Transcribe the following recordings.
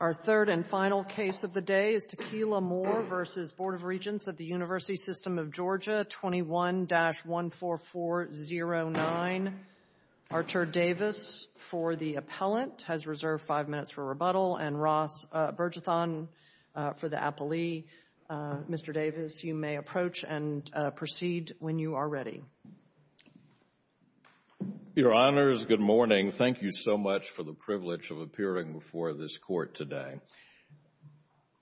21-14409. Arthur Davis for the appellant has reserved five minutes for rebuttal and Ross Bergeson for the rebuttal. Mr. Davis, you may approach and proceed when you are ready. Your Honors, good morning. Thank you so much for the privilege of appearing before this court today.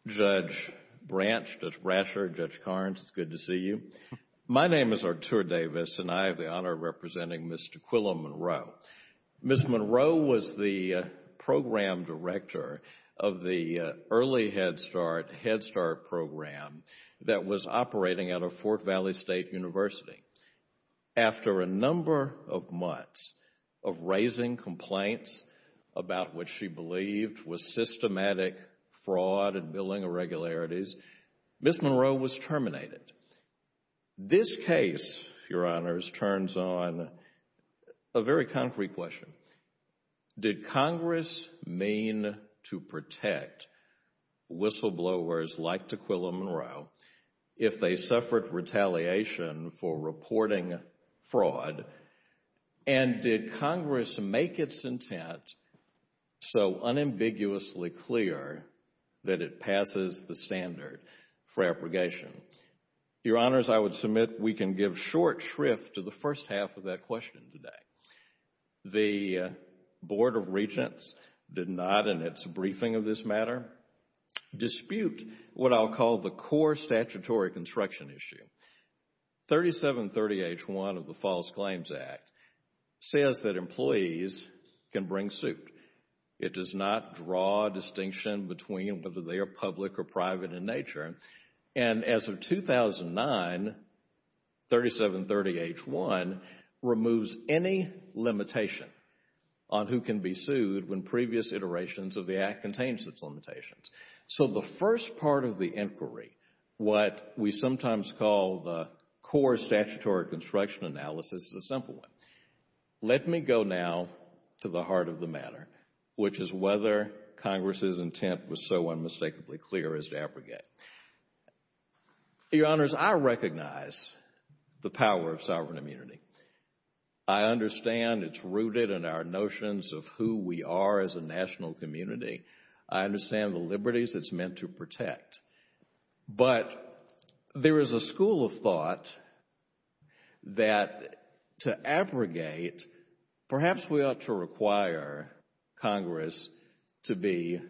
Judge Branch, Judge Brasher, Judge Carnes, it's good to see you. My name is Arthur Davis and I have the honor of representing Ms. Tequila Monroe. Ms. Monroe was the Program Director of the Early Head Start Head Start Program that was operating out of Fort Valley State University. After a number of months of raising complaints about what she believed was systematic fraud and billing irregularities, Ms. Monroe was terminated. This case, Your Honors, turns on a very concrete question. Did Congress mean to protect whistleblowers like Tequila Monroe if they suffered retaliation for reporting fraud? And did Congress make its intent so unambiguously clear that it passes the standard for abrogation? Your Honors, I would submit we can give short shrift to the first half of that question today. The Board of Regents did not, in its briefing of this matter, dispute what I'll call the core statutory construction issue. 3730H1 of the False Claims Act says that employees can bring suit. It does not draw a distinction between whether they are public or private in nature. And as of 2009, 3730H1 removes any limitation on who can be sued when previous iterations of the Act contains its limitations. So the first part of the inquiry, what we sometimes call the core statutory construction analysis, is a simple one. Let me go now to the heart of the matter, which is whether Congress's intent was so unmistakably clear as to abrogate. Your Honors, I recognize the power of sovereign immunity. I understand it's rooted in our notions of who we are as a national community. I understand the liberties it's meant to protect. But there is a school of thought that to abrogate, perhaps we ought to require Congress to be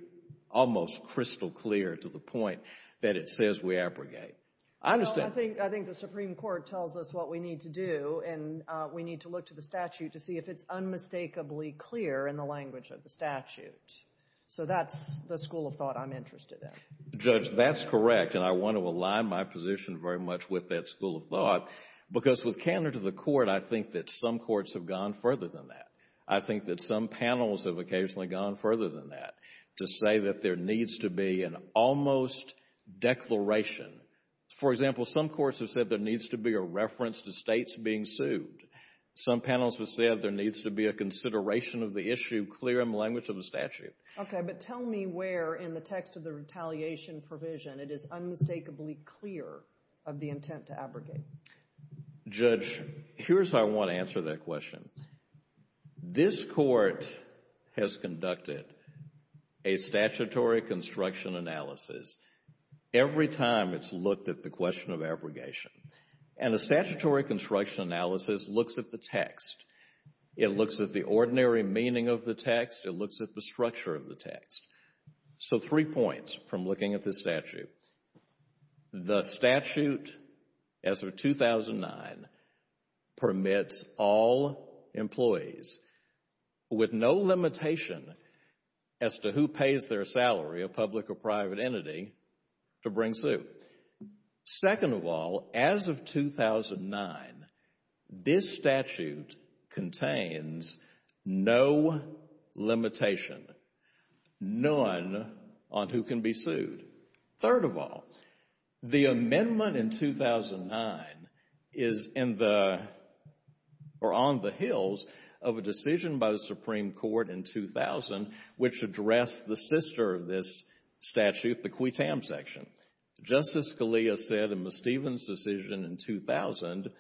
almost crystal clear to the point that it says we abrogate. I think the Supreme Court tells us what we need to do and we need to look to the statute to see if it's unmistakably clear in the language of the statute. So that's the school of thought I'm interested in. Judge, that's correct, and I want to align my position very much with that school of thought, because with candor to the Court, I think that some courts have gone further than that. I think that some panels have occasionally gone further than that to say that there needs to be an almost declaration. For example, some courts have said there needs to be a reference to states being sued. Some panels have said there needs to be a consideration of the issue clear in the language of the statute. Okay, but tell me where in the text of the retaliation provision it is unmistakably clear of the intent to abrogate. Judge, here's how I want to answer that question. This Court has conducted a statutory construction analysis every time it's looked at the question of abrogation. And a statutory construction analysis looks at the text. It looks at the ordinary meaning of the text. It looks at the structure of the text. So three points from looking at this statute. The statute, as of 2009, permits all employees with no limitation as to who pays their salary, a public or private entity, to bring suit. Second of all, as of 2009, this statute contains no limitation, none on who can be sued. Third of all, the amendment in 2009 is on the heels of a decision by the Supreme Court in 2000, which addressed the sister of this statute, the quitam section. Justice Scalia said in Ms. Stevens' decision in 2000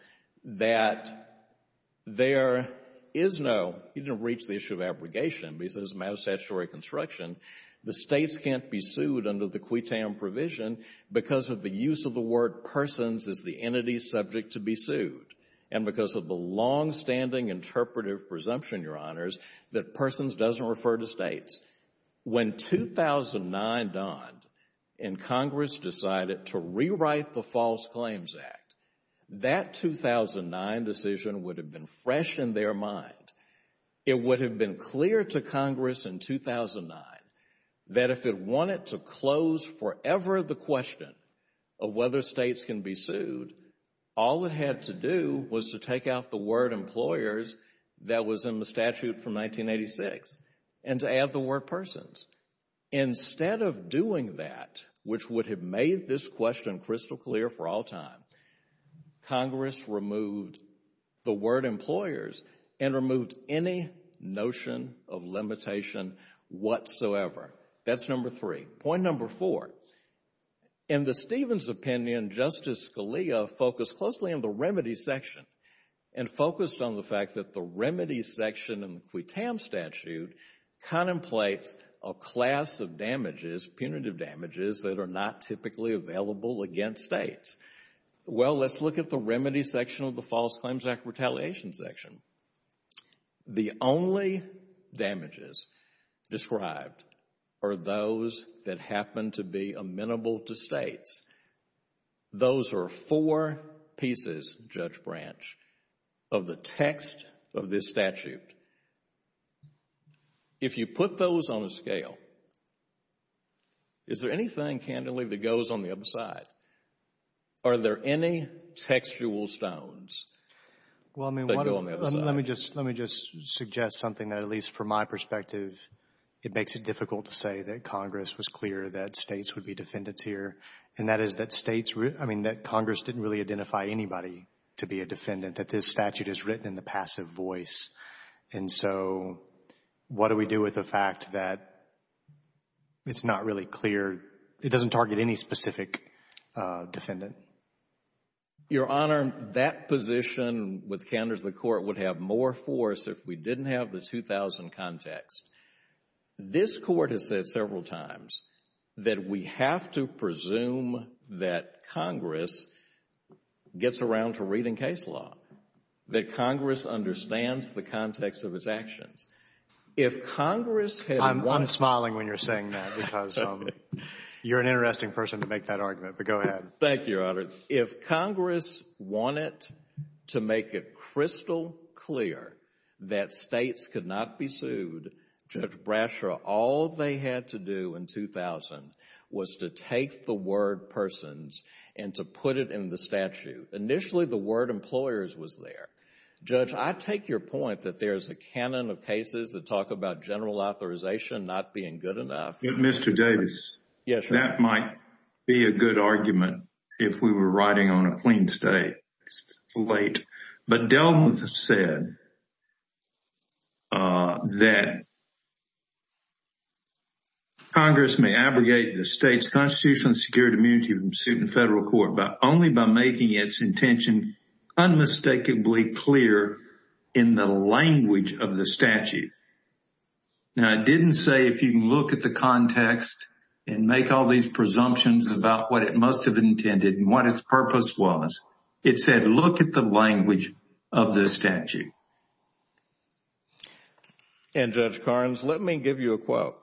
that there is no — he didn't reach the issue of abrogation, but he says it's a matter of statutory construction. The states can't be sued under the quitam provision because of the use of the word persons as the entity subject to be sued, and because of the longstanding interpretive presumption, Your Honors, that persons doesn't refer to states. When 2009 dawned and Congress decided to rewrite the False Claims Act, that 2009 decision would have been fresh in their mind. It would have been clear to Congress in 2009 that if it wanted to close forever the question of whether states can be sued, all it had to do was to take out the word employers that was in the statute from 1986 and to add the word persons. Instead of doing that, which would have made this question crystal clear for all time, Congress removed the word employers and removed any notion of limitation whatsoever. That's number three. Point number four, in the Stevens' opinion, Justice Scalia focused closely on the remedy section and focused on the fact that the remedy section in the quitam statute contemplates a class of damages, punitive damages, that are not typically available against states. Well, let's look at the remedy section of the False Claims Act retaliation section. The only damages described are those that happen to be amenable to states. Those are four pieces, Judge Branch, of the text of this statute. If you put those on a scale, is there anything, candidly, that goes on the other side? Are there any textual stones that go on the other side? Well, I mean, let me just suggest something that, at least from my perspective, it makes it difficult to say that Congress was clear that states would be defendants here, and that is that states, I mean, that Congress didn't really identify anybody to be a defendant, that this statute is written in the passive voice. And so what do we do with the fact that it's not really clear, it doesn't target any specific defendant? Your Honor, that position with candors of the Court would have more force if we didn't have the 2000 context. This Court has said several times that we have to presume that Congress gets around to reading case law, that Congress understands the context of its actions. If Congress had wanted... I'm smiling when you're saying that because you're an interesting person to make that argument, but go ahead. Thank you, Your Honor. If Congress wanted to make it crystal clear that states could not be sued, Judge Brasher, all they had to do in 2000 was to take the word persons and to put it in the statute. Initially, the word employers was there. Judge, I take your point that there's a canon of cases that talk about general authorization not being good enough. Mr. Davis, that might be a good argument if we were riding on a clean slate. But Delmouth said that Congress may abrogate the state's constitutionally secured immunity from suit in federal court only by making its intention unmistakably clear in the language of the statute. Now, it didn't say if you can look at the context and make all these presumptions about what it must have intended and what its purpose was. It said look at the language of the statute. And, Judge Carnes, let me give you a quote.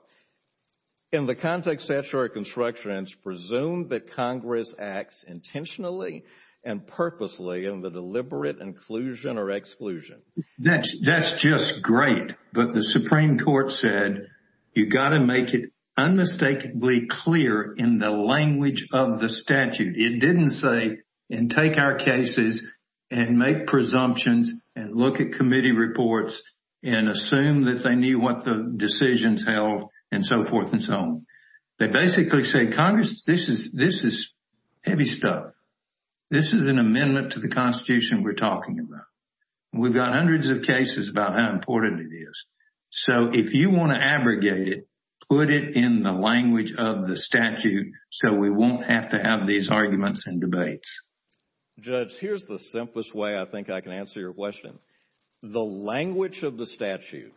In the context of statutory construction, it's presumed that Congress acts intentionally and purposely in the deliberate inclusion or exclusion. That's just great. But the Supreme Court said you've got to make it unmistakably clear in the language of the statute. It didn't say and take our cases and make presumptions and look at committee reports and assume that they knew what the decisions held and so forth and so on. They basically said, Congress, this is heavy stuff. This is an amendment to the constitution we're talking about. We've got hundreds of cases about how important it is. So if you want to abrogate it, put it in the language of the statute so we won't have to have these arguments and debates. Judge, here's the simplest way I think I can answer your question. The language of the statute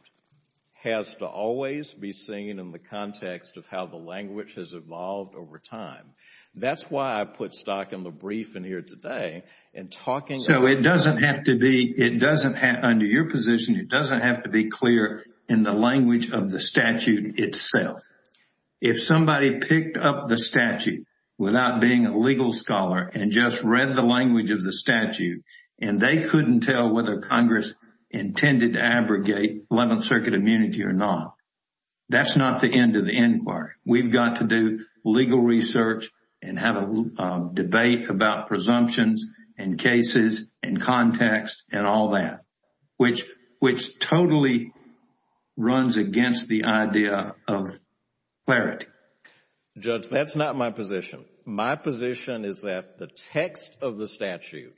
has to always be seen in the context of how the language has evolved over time. That's why I put Stock in the brief in here today. So it doesn't have to be, under your position, it doesn't have to be clear in the language of the statute itself. If somebody picked up the statute without being a legal scholar and just read the language of the statute and they couldn't tell whether Congress intended to abrogate Eleventh Circuit immunity or not, that's not the end of the inquiry. We've got to do legal research and have a debate about presumptions and cases and context and all that, which totally runs against the idea of clarity. Judge, that's not my position. My position is that the text of the statute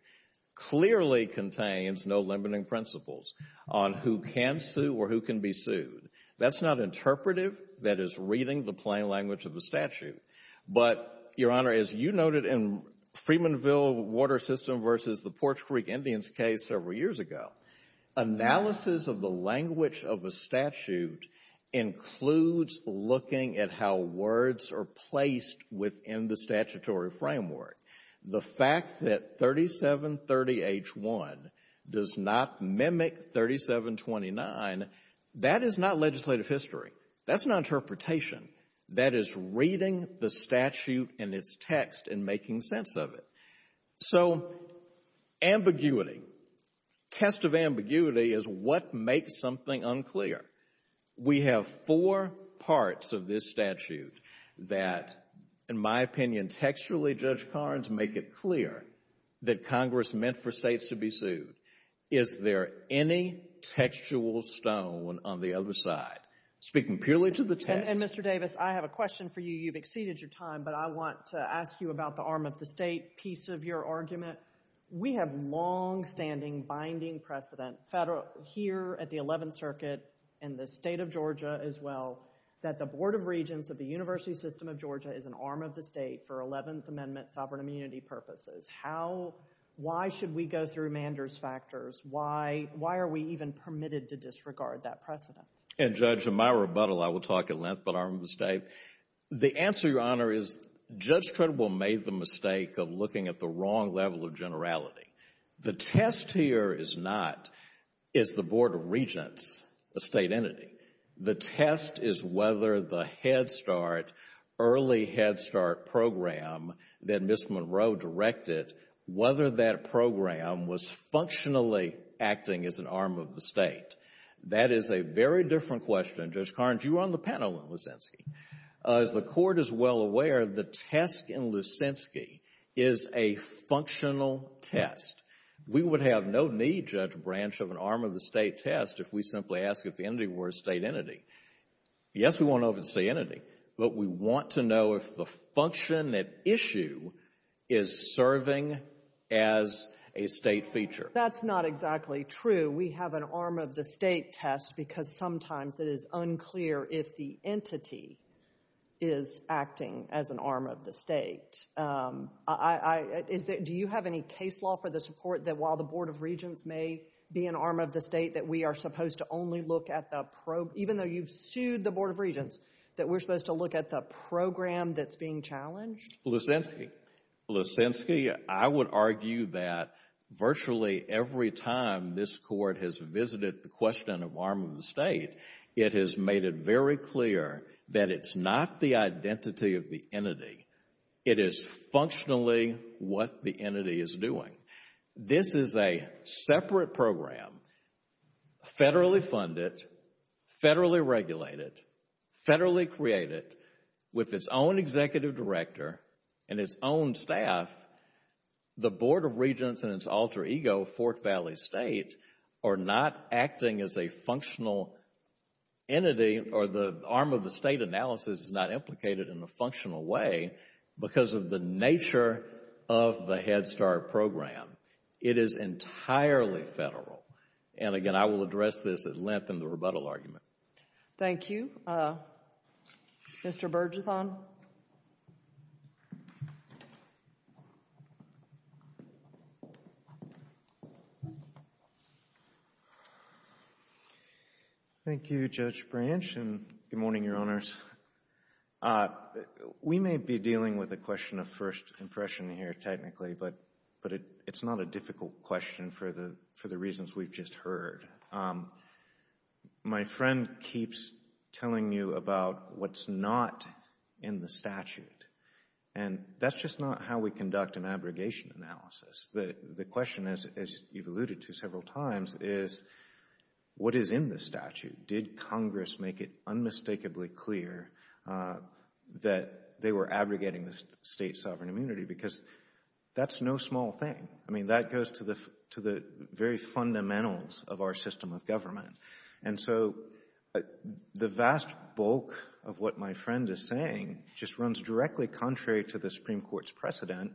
clearly contains no limiting principles on who can sue or who can be sued. That's not interpretive. That is reading the plain language of the statute. But, Your Honor, as you noted in Freedmanville Water System v. the Porch Creek Indians case several years ago, analysis of the language of a statute includes looking at how words are placed within the statutory framework. The fact that 3730H1 does not mimic 3729, that is not legislative history. That's not interpretation. That is reading the statute and its text and making sense of it. So ambiguity, test of ambiguity is what makes something unclear. We have four parts of this statute that, in my opinion, textually, Judge Carnes, make it clear that Congress meant for states to be sued. Is there any textual stone on the other side? Speaking purely to the text. And, Mr. Davis, I have a question for you. You've exceeded your time, but I want to ask you about the arm of the state piece of your argument. We have longstanding binding precedent here at the Eleventh Circuit and the state of Georgia as well, that the Board of Regents of the University System of Georgia is an arm of the state for Eleventh Amendment sovereign immunity purposes. Why should we go through Mander's factors? Why are we even permitted to disregard that precedent? And, Judge, in my rebuttal, I will talk at length about arm of the state. The answer, Your Honor, is Judge Trudeau made the mistake of looking at the wrong level of generality. The test here is not, is the Board of Regents a state entity? The test is whether the Head Start, early Head Start program that Ms. Monroe directed, whether that program was functionally acting as an arm of the state. That is a very different question. Judge Carnes, you were on the panel in Lucinski. As the Court is well aware, the test in Lucinski is a functional test. We would have no need, Judge Branch, of an arm of the state test if we simply asked if the entity were a state entity. Yes, we want to know if it's a state entity, but we want to know if the function at issue is serving as a state feature. That's not exactly true. We have an arm of the state test because sometimes it is unclear if the entity is acting as an arm of the state. Do you have any case law for the support that while the Board of Regents may be an arm of the state, that we are supposed to only look at the, even though you've sued the Board of Regents, that we're supposed to look at the program that's being challenged? Lucinski. Lucinski, I would argue that virtually every time this Court has visited the question of arm of the state, it has made it very clear that it's not the identity of the entity. It is functionally what the entity is doing. This is a separate program, federally funded, federally regulated, federally created, with its own executive director and its own staff. The Board of Regents and its alter ego, Fort Valley State, are not acting as a functional entity or the arm of the state analysis is not implicated in a functional way because of the nature of the Head Start program. It is entirely federal. And again, I will address this at length in the rebuttal argument. Thank you. Mr. Bergethon. Thank you, Judge Branch, and good morning, Your Honors. We may be dealing with a question of first impression here technically, but it's not a difficult question for the reasons we've just heard. My friend keeps telling you about what's not in the statute, and that's just not how we conduct an abrogation analysis. The question, as you've alluded to several times, is what is in the statute? Did Congress make it unmistakably clear that they were abrogating the state sovereign immunity? Because that's no small thing. I mean, that goes to the very fundamentals of our system of government. And so the vast bulk of what my friend is saying just runs directly contrary to the Supreme Court's precedent,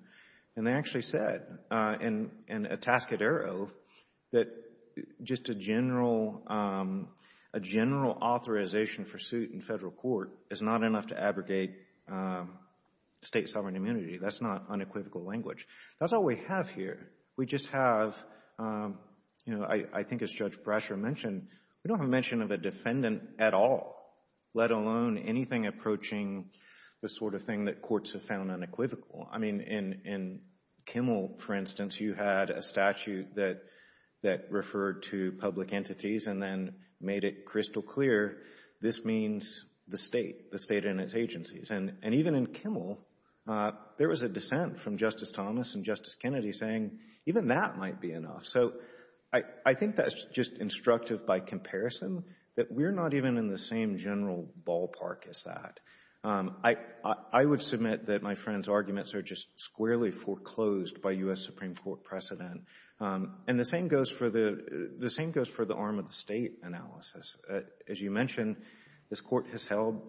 and they actually said in a task at arrow that just a general authorization for suit in federal court is not enough to abrogate state sovereign immunity. That's not unequivocal language. That's all we have here. We just have, you know, I think as Judge Brasher mentioned, we don't have mention of a defendant at all, let alone anything approaching the sort of thing that courts have found unequivocal. I mean, in Kimmel, for instance, you had a statute that referred to public entities and then made it crystal clear this means the state, the state and its agencies. And even in Kimmel, there was a dissent from Justice Thomas and Justice Kennedy saying even that might be enough. So I think that's just instructive by comparison that we're not even in the same general ballpark as that. I would submit that my friend's arguments are just squarely foreclosed by U.S. Supreme Court precedent. And the same goes for the arm of the state analysis. As you mentioned, this court has held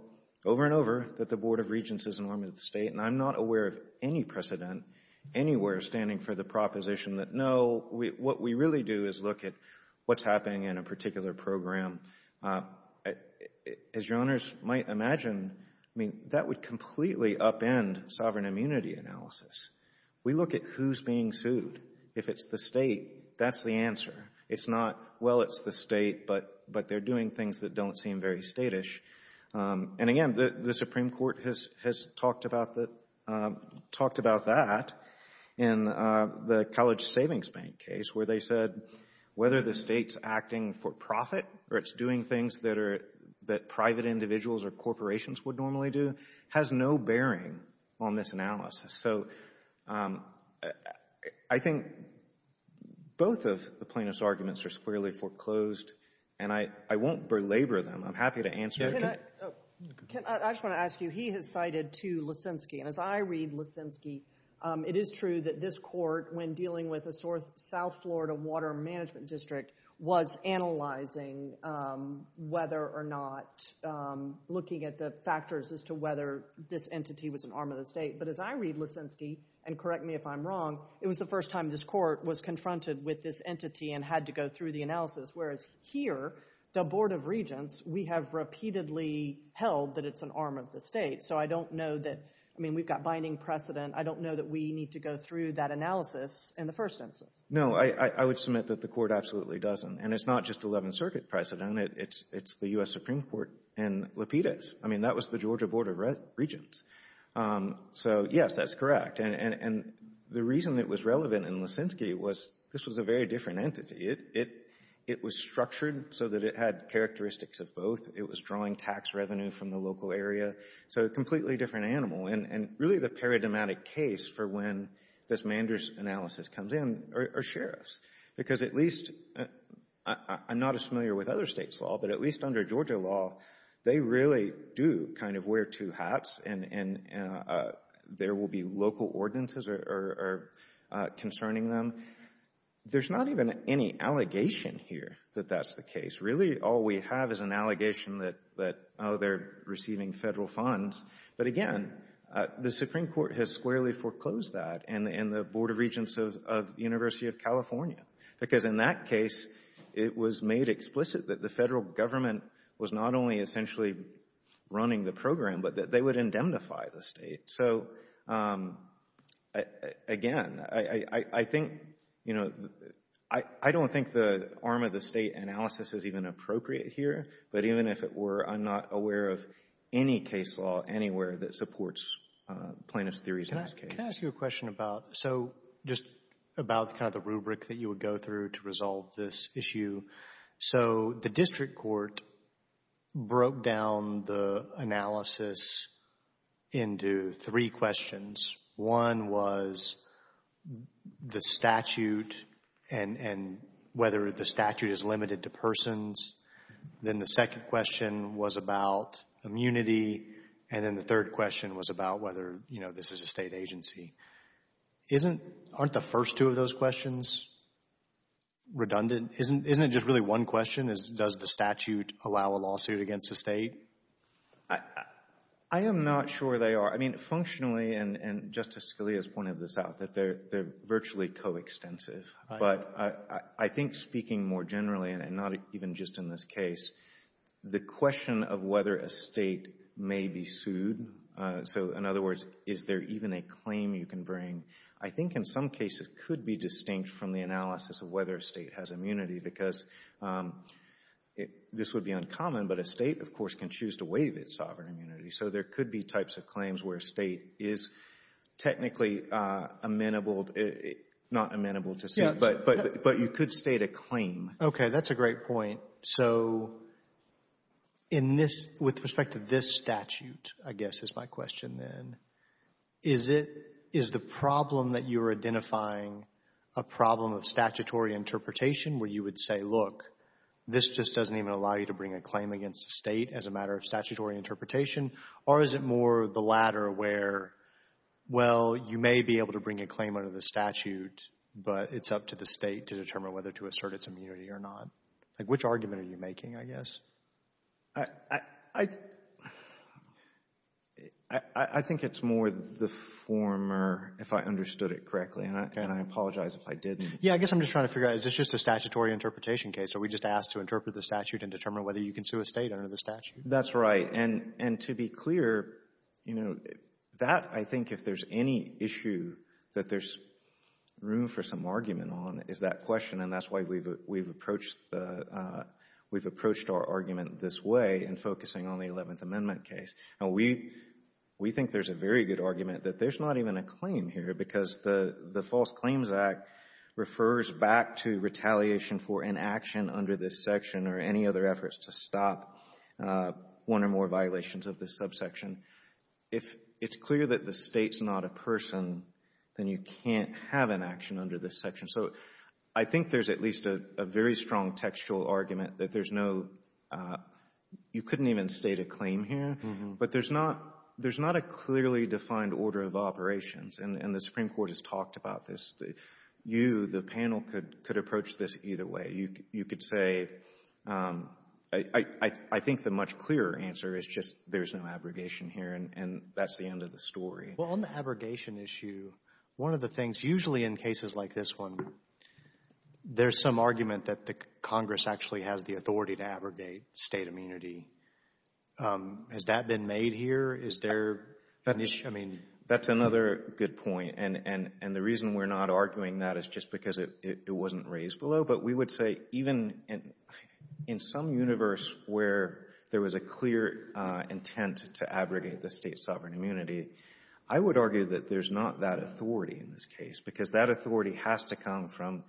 over and over that the Board of Regents is an arm of the state. And I'm not aware of any precedent anywhere standing for the proposition that no, what we really do is look at what's happening in a particular program. As your Honors might imagine, I mean, that would completely upend sovereign immunity analysis. We look at who's being sued. If it's the state, that's the answer. It's not, well, it's the state, but they're doing things that don't seem very statish. And again, the Supreme Court has talked about that in the College Savings Bank case where they said whether the state's acting for profit or it's doing things that private individuals or corporations would normally do has no bearing on this analysis. So I think both of the plaintiff's arguments are squarely foreclosed. And I won't belabor them. I'm happy to answer. I just want to ask you, he has cited, too, Lissinsky. And as I read Lissinsky, it is true that this court, when dealing with the South Florida Water Management District, was analyzing whether or not, looking at the factors as to whether this entity was an arm of the state. But as I read Lissinsky, and correct me if I'm wrong, it was the first time this court was confronted with this entity and had to go through the analysis, whereas here, the Board of Regents, we have repeatedly held that it's an arm of the state. So I don't know that, I mean, we've got binding precedent. I don't know that we need to go through that analysis in the first instance. No, I would submit that the court absolutely doesn't. And it's not just 11th Circuit precedent. It's the U.S. Supreme Court and Lapides. I mean, that was the Georgia Board of Regents. So, yes, that's correct. And the reason it was relevant in Lissinsky was this was a very different entity. It was structured so that it had characteristics of both. It was drawing tax revenue from the local area. So a completely different animal. And really the paradigmatic case for when this Manders analysis comes in are sheriffs. Because at least, I'm not as familiar with other states' law, but at least under Georgia law, they really do kind of wear two hats and there will be local ordinances concerning them. There's not even any allegation here that that's the case. Really, all we have is an allegation that, oh, they're receiving federal funds. But, again, the Supreme Court has squarely foreclosed that and the Board of Regents of the University of California. Because in that case, it was made explicit that the federal government was not only essentially running the program, but that they would indemnify the state. So, again, I think, you know, I don't think the arm of the state analysis is even appropriate here. But even if it were, I'm not aware of any case law anywhere that supports plaintiff's theories in this case. I wanted to ask you a question about, so just about kind of the rubric that you would go through to resolve this issue. So the district court broke down the analysis into three questions. One was the statute and whether the statute is limited to persons. Then the second question was about immunity. And then the third question was about whether, you know, this is a state agency. Aren't the first two of those questions redundant? Isn't it just really one question? Does the statute allow a lawsuit against the state? I am not sure they are. I mean, functionally, and Justice Scalia has pointed this out, that they're virtually coextensive. But I think speaking more generally and not even just in this case, the question of whether a state may be sued. So, in other words, is there even a claim you can bring? I think in some cases could be distinct from the analysis of whether a state has immunity because this would be uncommon, but a state, of course, can choose to waive its sovereign immunity. So there could be types of claims where a state is technically amenable. Not amenable to state, but you could state a claim. Okay, that's a great point. So with respect to this statute, I guess, is my question then. Is the problem that you're identifying a problem of statutory interpretation where you would say, look, this just doesn't even allow you to bring a claim against the state as a matter of statutory interpretation? Or is it more the latter where, well, you may be able to bring a claim under the statute, but it's up to the state to determine whether to assert its immunity or not? Which argument are you making, I guess? I think it's more the former, if I understood it correctly, and I apologize if I didn't. Yeah, I guess I'm just trying to figure out, is this just a statutory interpretation case? Are we just asked to interpret the statute and determine whether you can sue a state under the statute? That's right. And to be clear, that, I think, if there's any issue that there's room for some argument on is that question, and that's why we've approached our argument this way in focusing on the Eleventh Amendment case. Now, we think there's a very good argument that there's not even a claim here because the False Claims Act refers back to retaliation for inaction under this section or any other efforts to stop one or more violations of this subsection. If it's clear that the state's not a person, then you can't have inaction under this section. So I think there's at least a very strong textual argument that there's no, you couldn't even state a claim here, but there's not a clearly defined order of operations, and the Supreme Court has talked about this. You, the panel, could approach this either way. You could say, I think the much clearer answer is just there's no abrogation here, and that's the end of the story. Well, on the abrogation issue, one of the things, usually in cases like this one, there's some argument that the Congress actually has the authority to abrogate state immunity. Has that been made here? Is there an issue? That's another good point, and the reason we're not arguing that is just because it wasn't raised below, but we would say even in some universe where there was a clear intent to abrogate the state's sovereign immunity, I would argue that there's not that authority in this case because that authority has to come from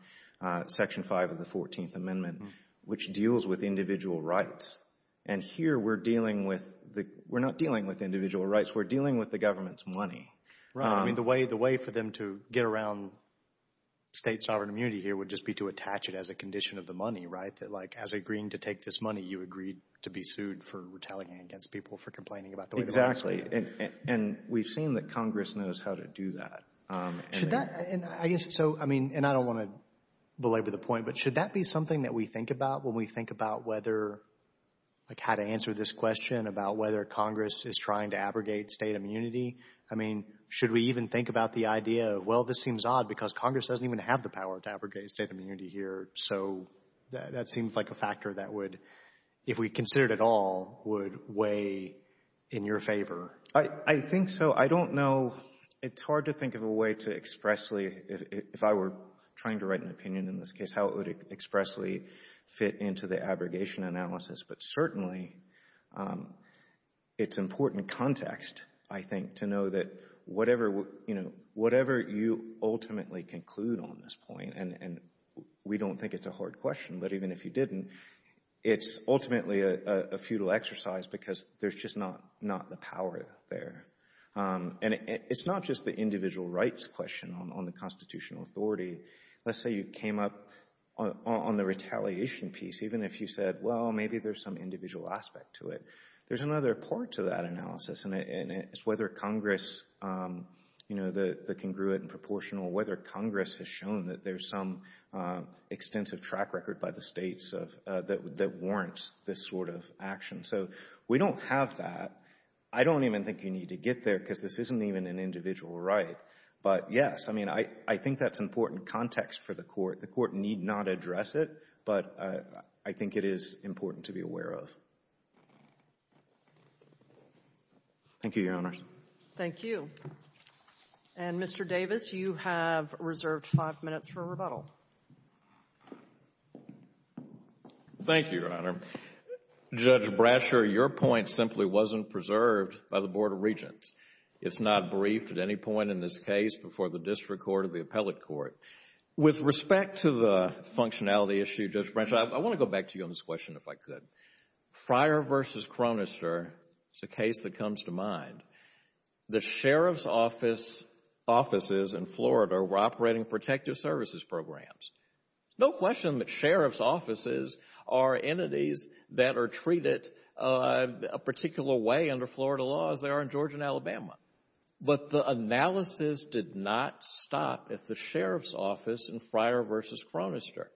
Section 5 of the 14th Amendment, which deals with individual rights, and here we're dealing with, we're not dealing with individual rights. We're dealing with the government's money. Right. I mean, the way for them to get around state sovereign immunity here would just be to attach it as a condition of the money, right? That, like, as agreeing to take this money, you agreed to be sued for retaliating against people for complaining about the way the money was paid. Exactly, and we've seen that Congress knows how to do that. Should that, and I guess, so, I mean, and I don't want to belabor the point, but should that be something that we think about when we think about whether, like, how to answer this question about whether Congress is trying to abrogate state immunity? I mean, should we even think about the idea of, well, this seems odd because Congress doesn't even have the power to abrogate state immunity here, so that seems like a factor that would, if we considered it all, would weigh in your favor. I think so. I don't know. It's hard to think of a way to expressly, if I were trying to write an opinion in this case, how it would expressly fit into the abrogation analysis, but certainly it's important context, I think, to know that whatever you ultimately conclude on this point, and we don't think it's a hard question, but even if you didn't, it's ultimately a futile exercise because there's just not the power there. And it's not just the individual rights question on the constitutional authority. Let's say you came up on the retaliation piece, even if you said, well, maybe there's some individual aspect to it. There's another part to that analysis, and it's whether Congress, you know, the congruent and proportional, whether Congress has shown that there's some extensive track record by the states that warrants this sort of action. So we don't have that. I don't even think you need to get there because this isn't even an individual right. But, yes, I mean, I think that's important context for the Court. The Court need not address it, but I think it is important to be aware of. Thank you, Your Honors. Thank you. And, Mr. Davis, you have reserved five minutes for rebuttal. Thank you, Your Honor. Judge Brasher, your point simply wasn't preserved by the Board of Regents. It's not briefed at any point in this case before the district court or the appellate court. With respect to the functionality issue, Judge Brasher, I want to go back to you on this question, if I could. Fryer v. Chronister is a case that comes to mind. The sheriff's offices in Florida were operating protective services programs. No question that sheriff's offices are entities that are treated a particular way under Florida law as they are in Georgia and Alabama. But the analysis did not stop at the sheriff's office in Fryer v. Chronister.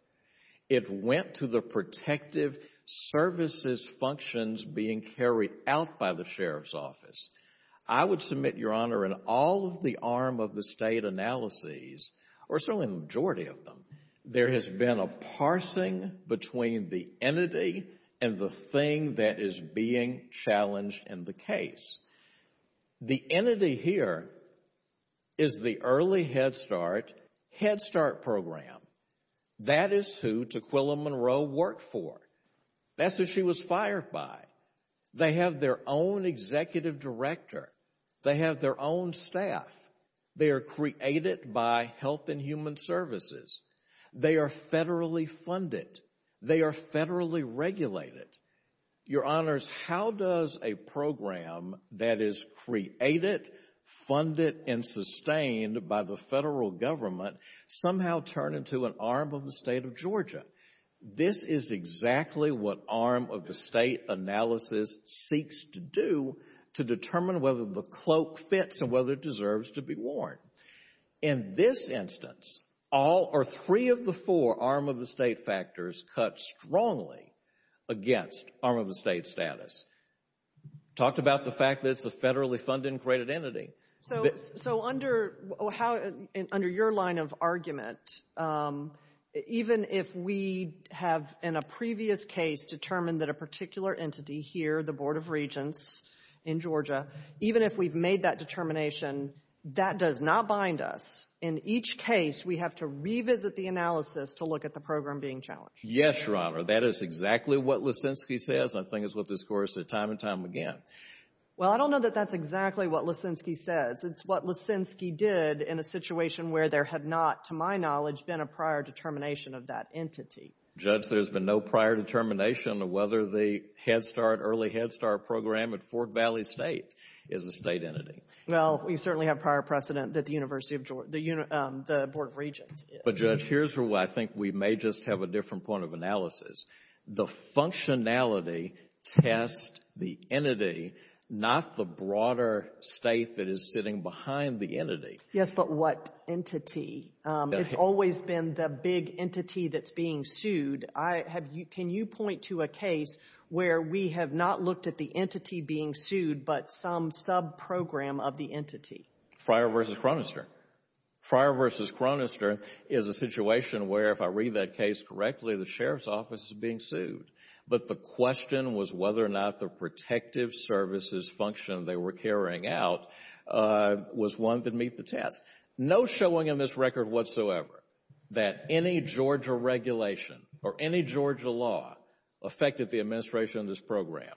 It went to the protective services functions being carried out by the sheriff's office. I would submit, Your Honor, in all of the arm of the State analyses, or certainly the majority of them, there has been a parsing between the entity and the thing that is being challenged in the case. The entity here is the Early Head Start Head Start Program. That is who Taquilla Monroe worked for. That's who she was fired by. They have their own executive director. They have their own staff. They are created by Health and Human Services. They are federally funded. They are federally regulated. Your Honors, how does a program that is created, funded, and sustained by the federal government somehow turn into an arm of the State of Georgia? This is exactly what arm of the State analysis seeks to do to determine whether the cloak fits and whether it deserves to be worn. In this instance, all or three of the four arm of the State factors cut strongly against arm of the State status. Talk about the fact that it's a federally funded and created entity. So under your line of argument, even if we have in a previous case determined that a particular entity here, the Board of Regents in Georgia, even if we've made that determination, that does not bind us. In each case, we have to revisit the analysis to look at the program being challenged. Yes, Your Honor. That is exactly what Lisinski says. I think it's what this Court has said time and time again. Well, I don't know that that's exactly what Lisinski says. It's what Lisinski did in a situation where there had not, to my knowledge, been a prior determination of that entity. Judge, there's been no prior determination of whether the Head Start, Early Head Start program at Fort Valley State is a State entity. Well, we certainly have prior precedent that the Board of Regents is. But, Judge, here's where I think we may just have a different point of analysis. The functionality tests the entity, not the broader State that is sitting behind the entity. Yes, but what entity? It's always been the big entity that's being sued. Can you point to a case where we have not looked at the entity being sued, but some sub-program of the entity? Fryer v. Chronister. Fryer v. Chronister is a situation where, if I read that case correctly, the Sheriff's Office is being sued. But the question was whether or not the protective services function they were carrying out was one that meet the test. No showing in this record whatsoever that any Georgia regulation or any Georgia law affected the administration of this program.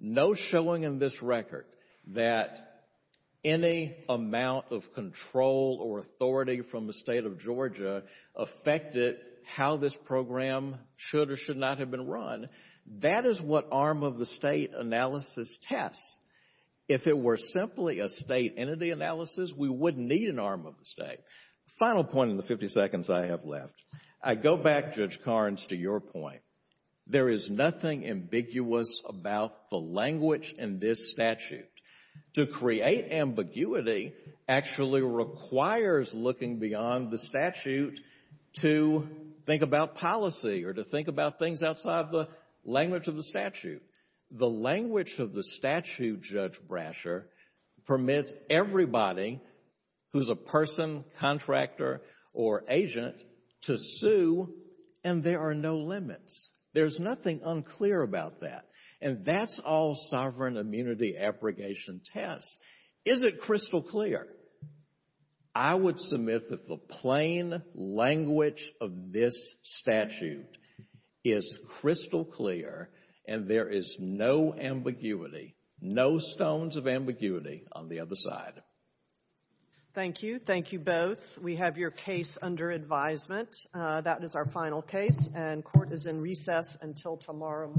No showing in this record that any amount of control or authority from the State of Georgia affected how this program should or should not have been run. That is what arm-of-the-State analysis tests. If it were simply a State entity analysis, we wouldn't need an arm-of-the-State. Final point in the 50 seconds I have left. I go back, Judge Carnes, to your point. There is nothing ambiguous about the language in this statute. To create ambiguity actually requires looking beyond the statute to think about policy or to think about things outside the language of the statute. The language of the statute, Judge Brasher, permits everybody who's a person, contractor, or agent to sue, and there are no limits. There's nothing unclear about that. And that's all sovereign immunity abrogation tests. Is it crystal clear? I would submit that the plain language of this statute is crystal clear, and there is no ambiguity, no stones of ambiguity on the other side. Thank you. Thank you both. We have your case under advisement. That is our final case, and court is in recess until tomorrow morning.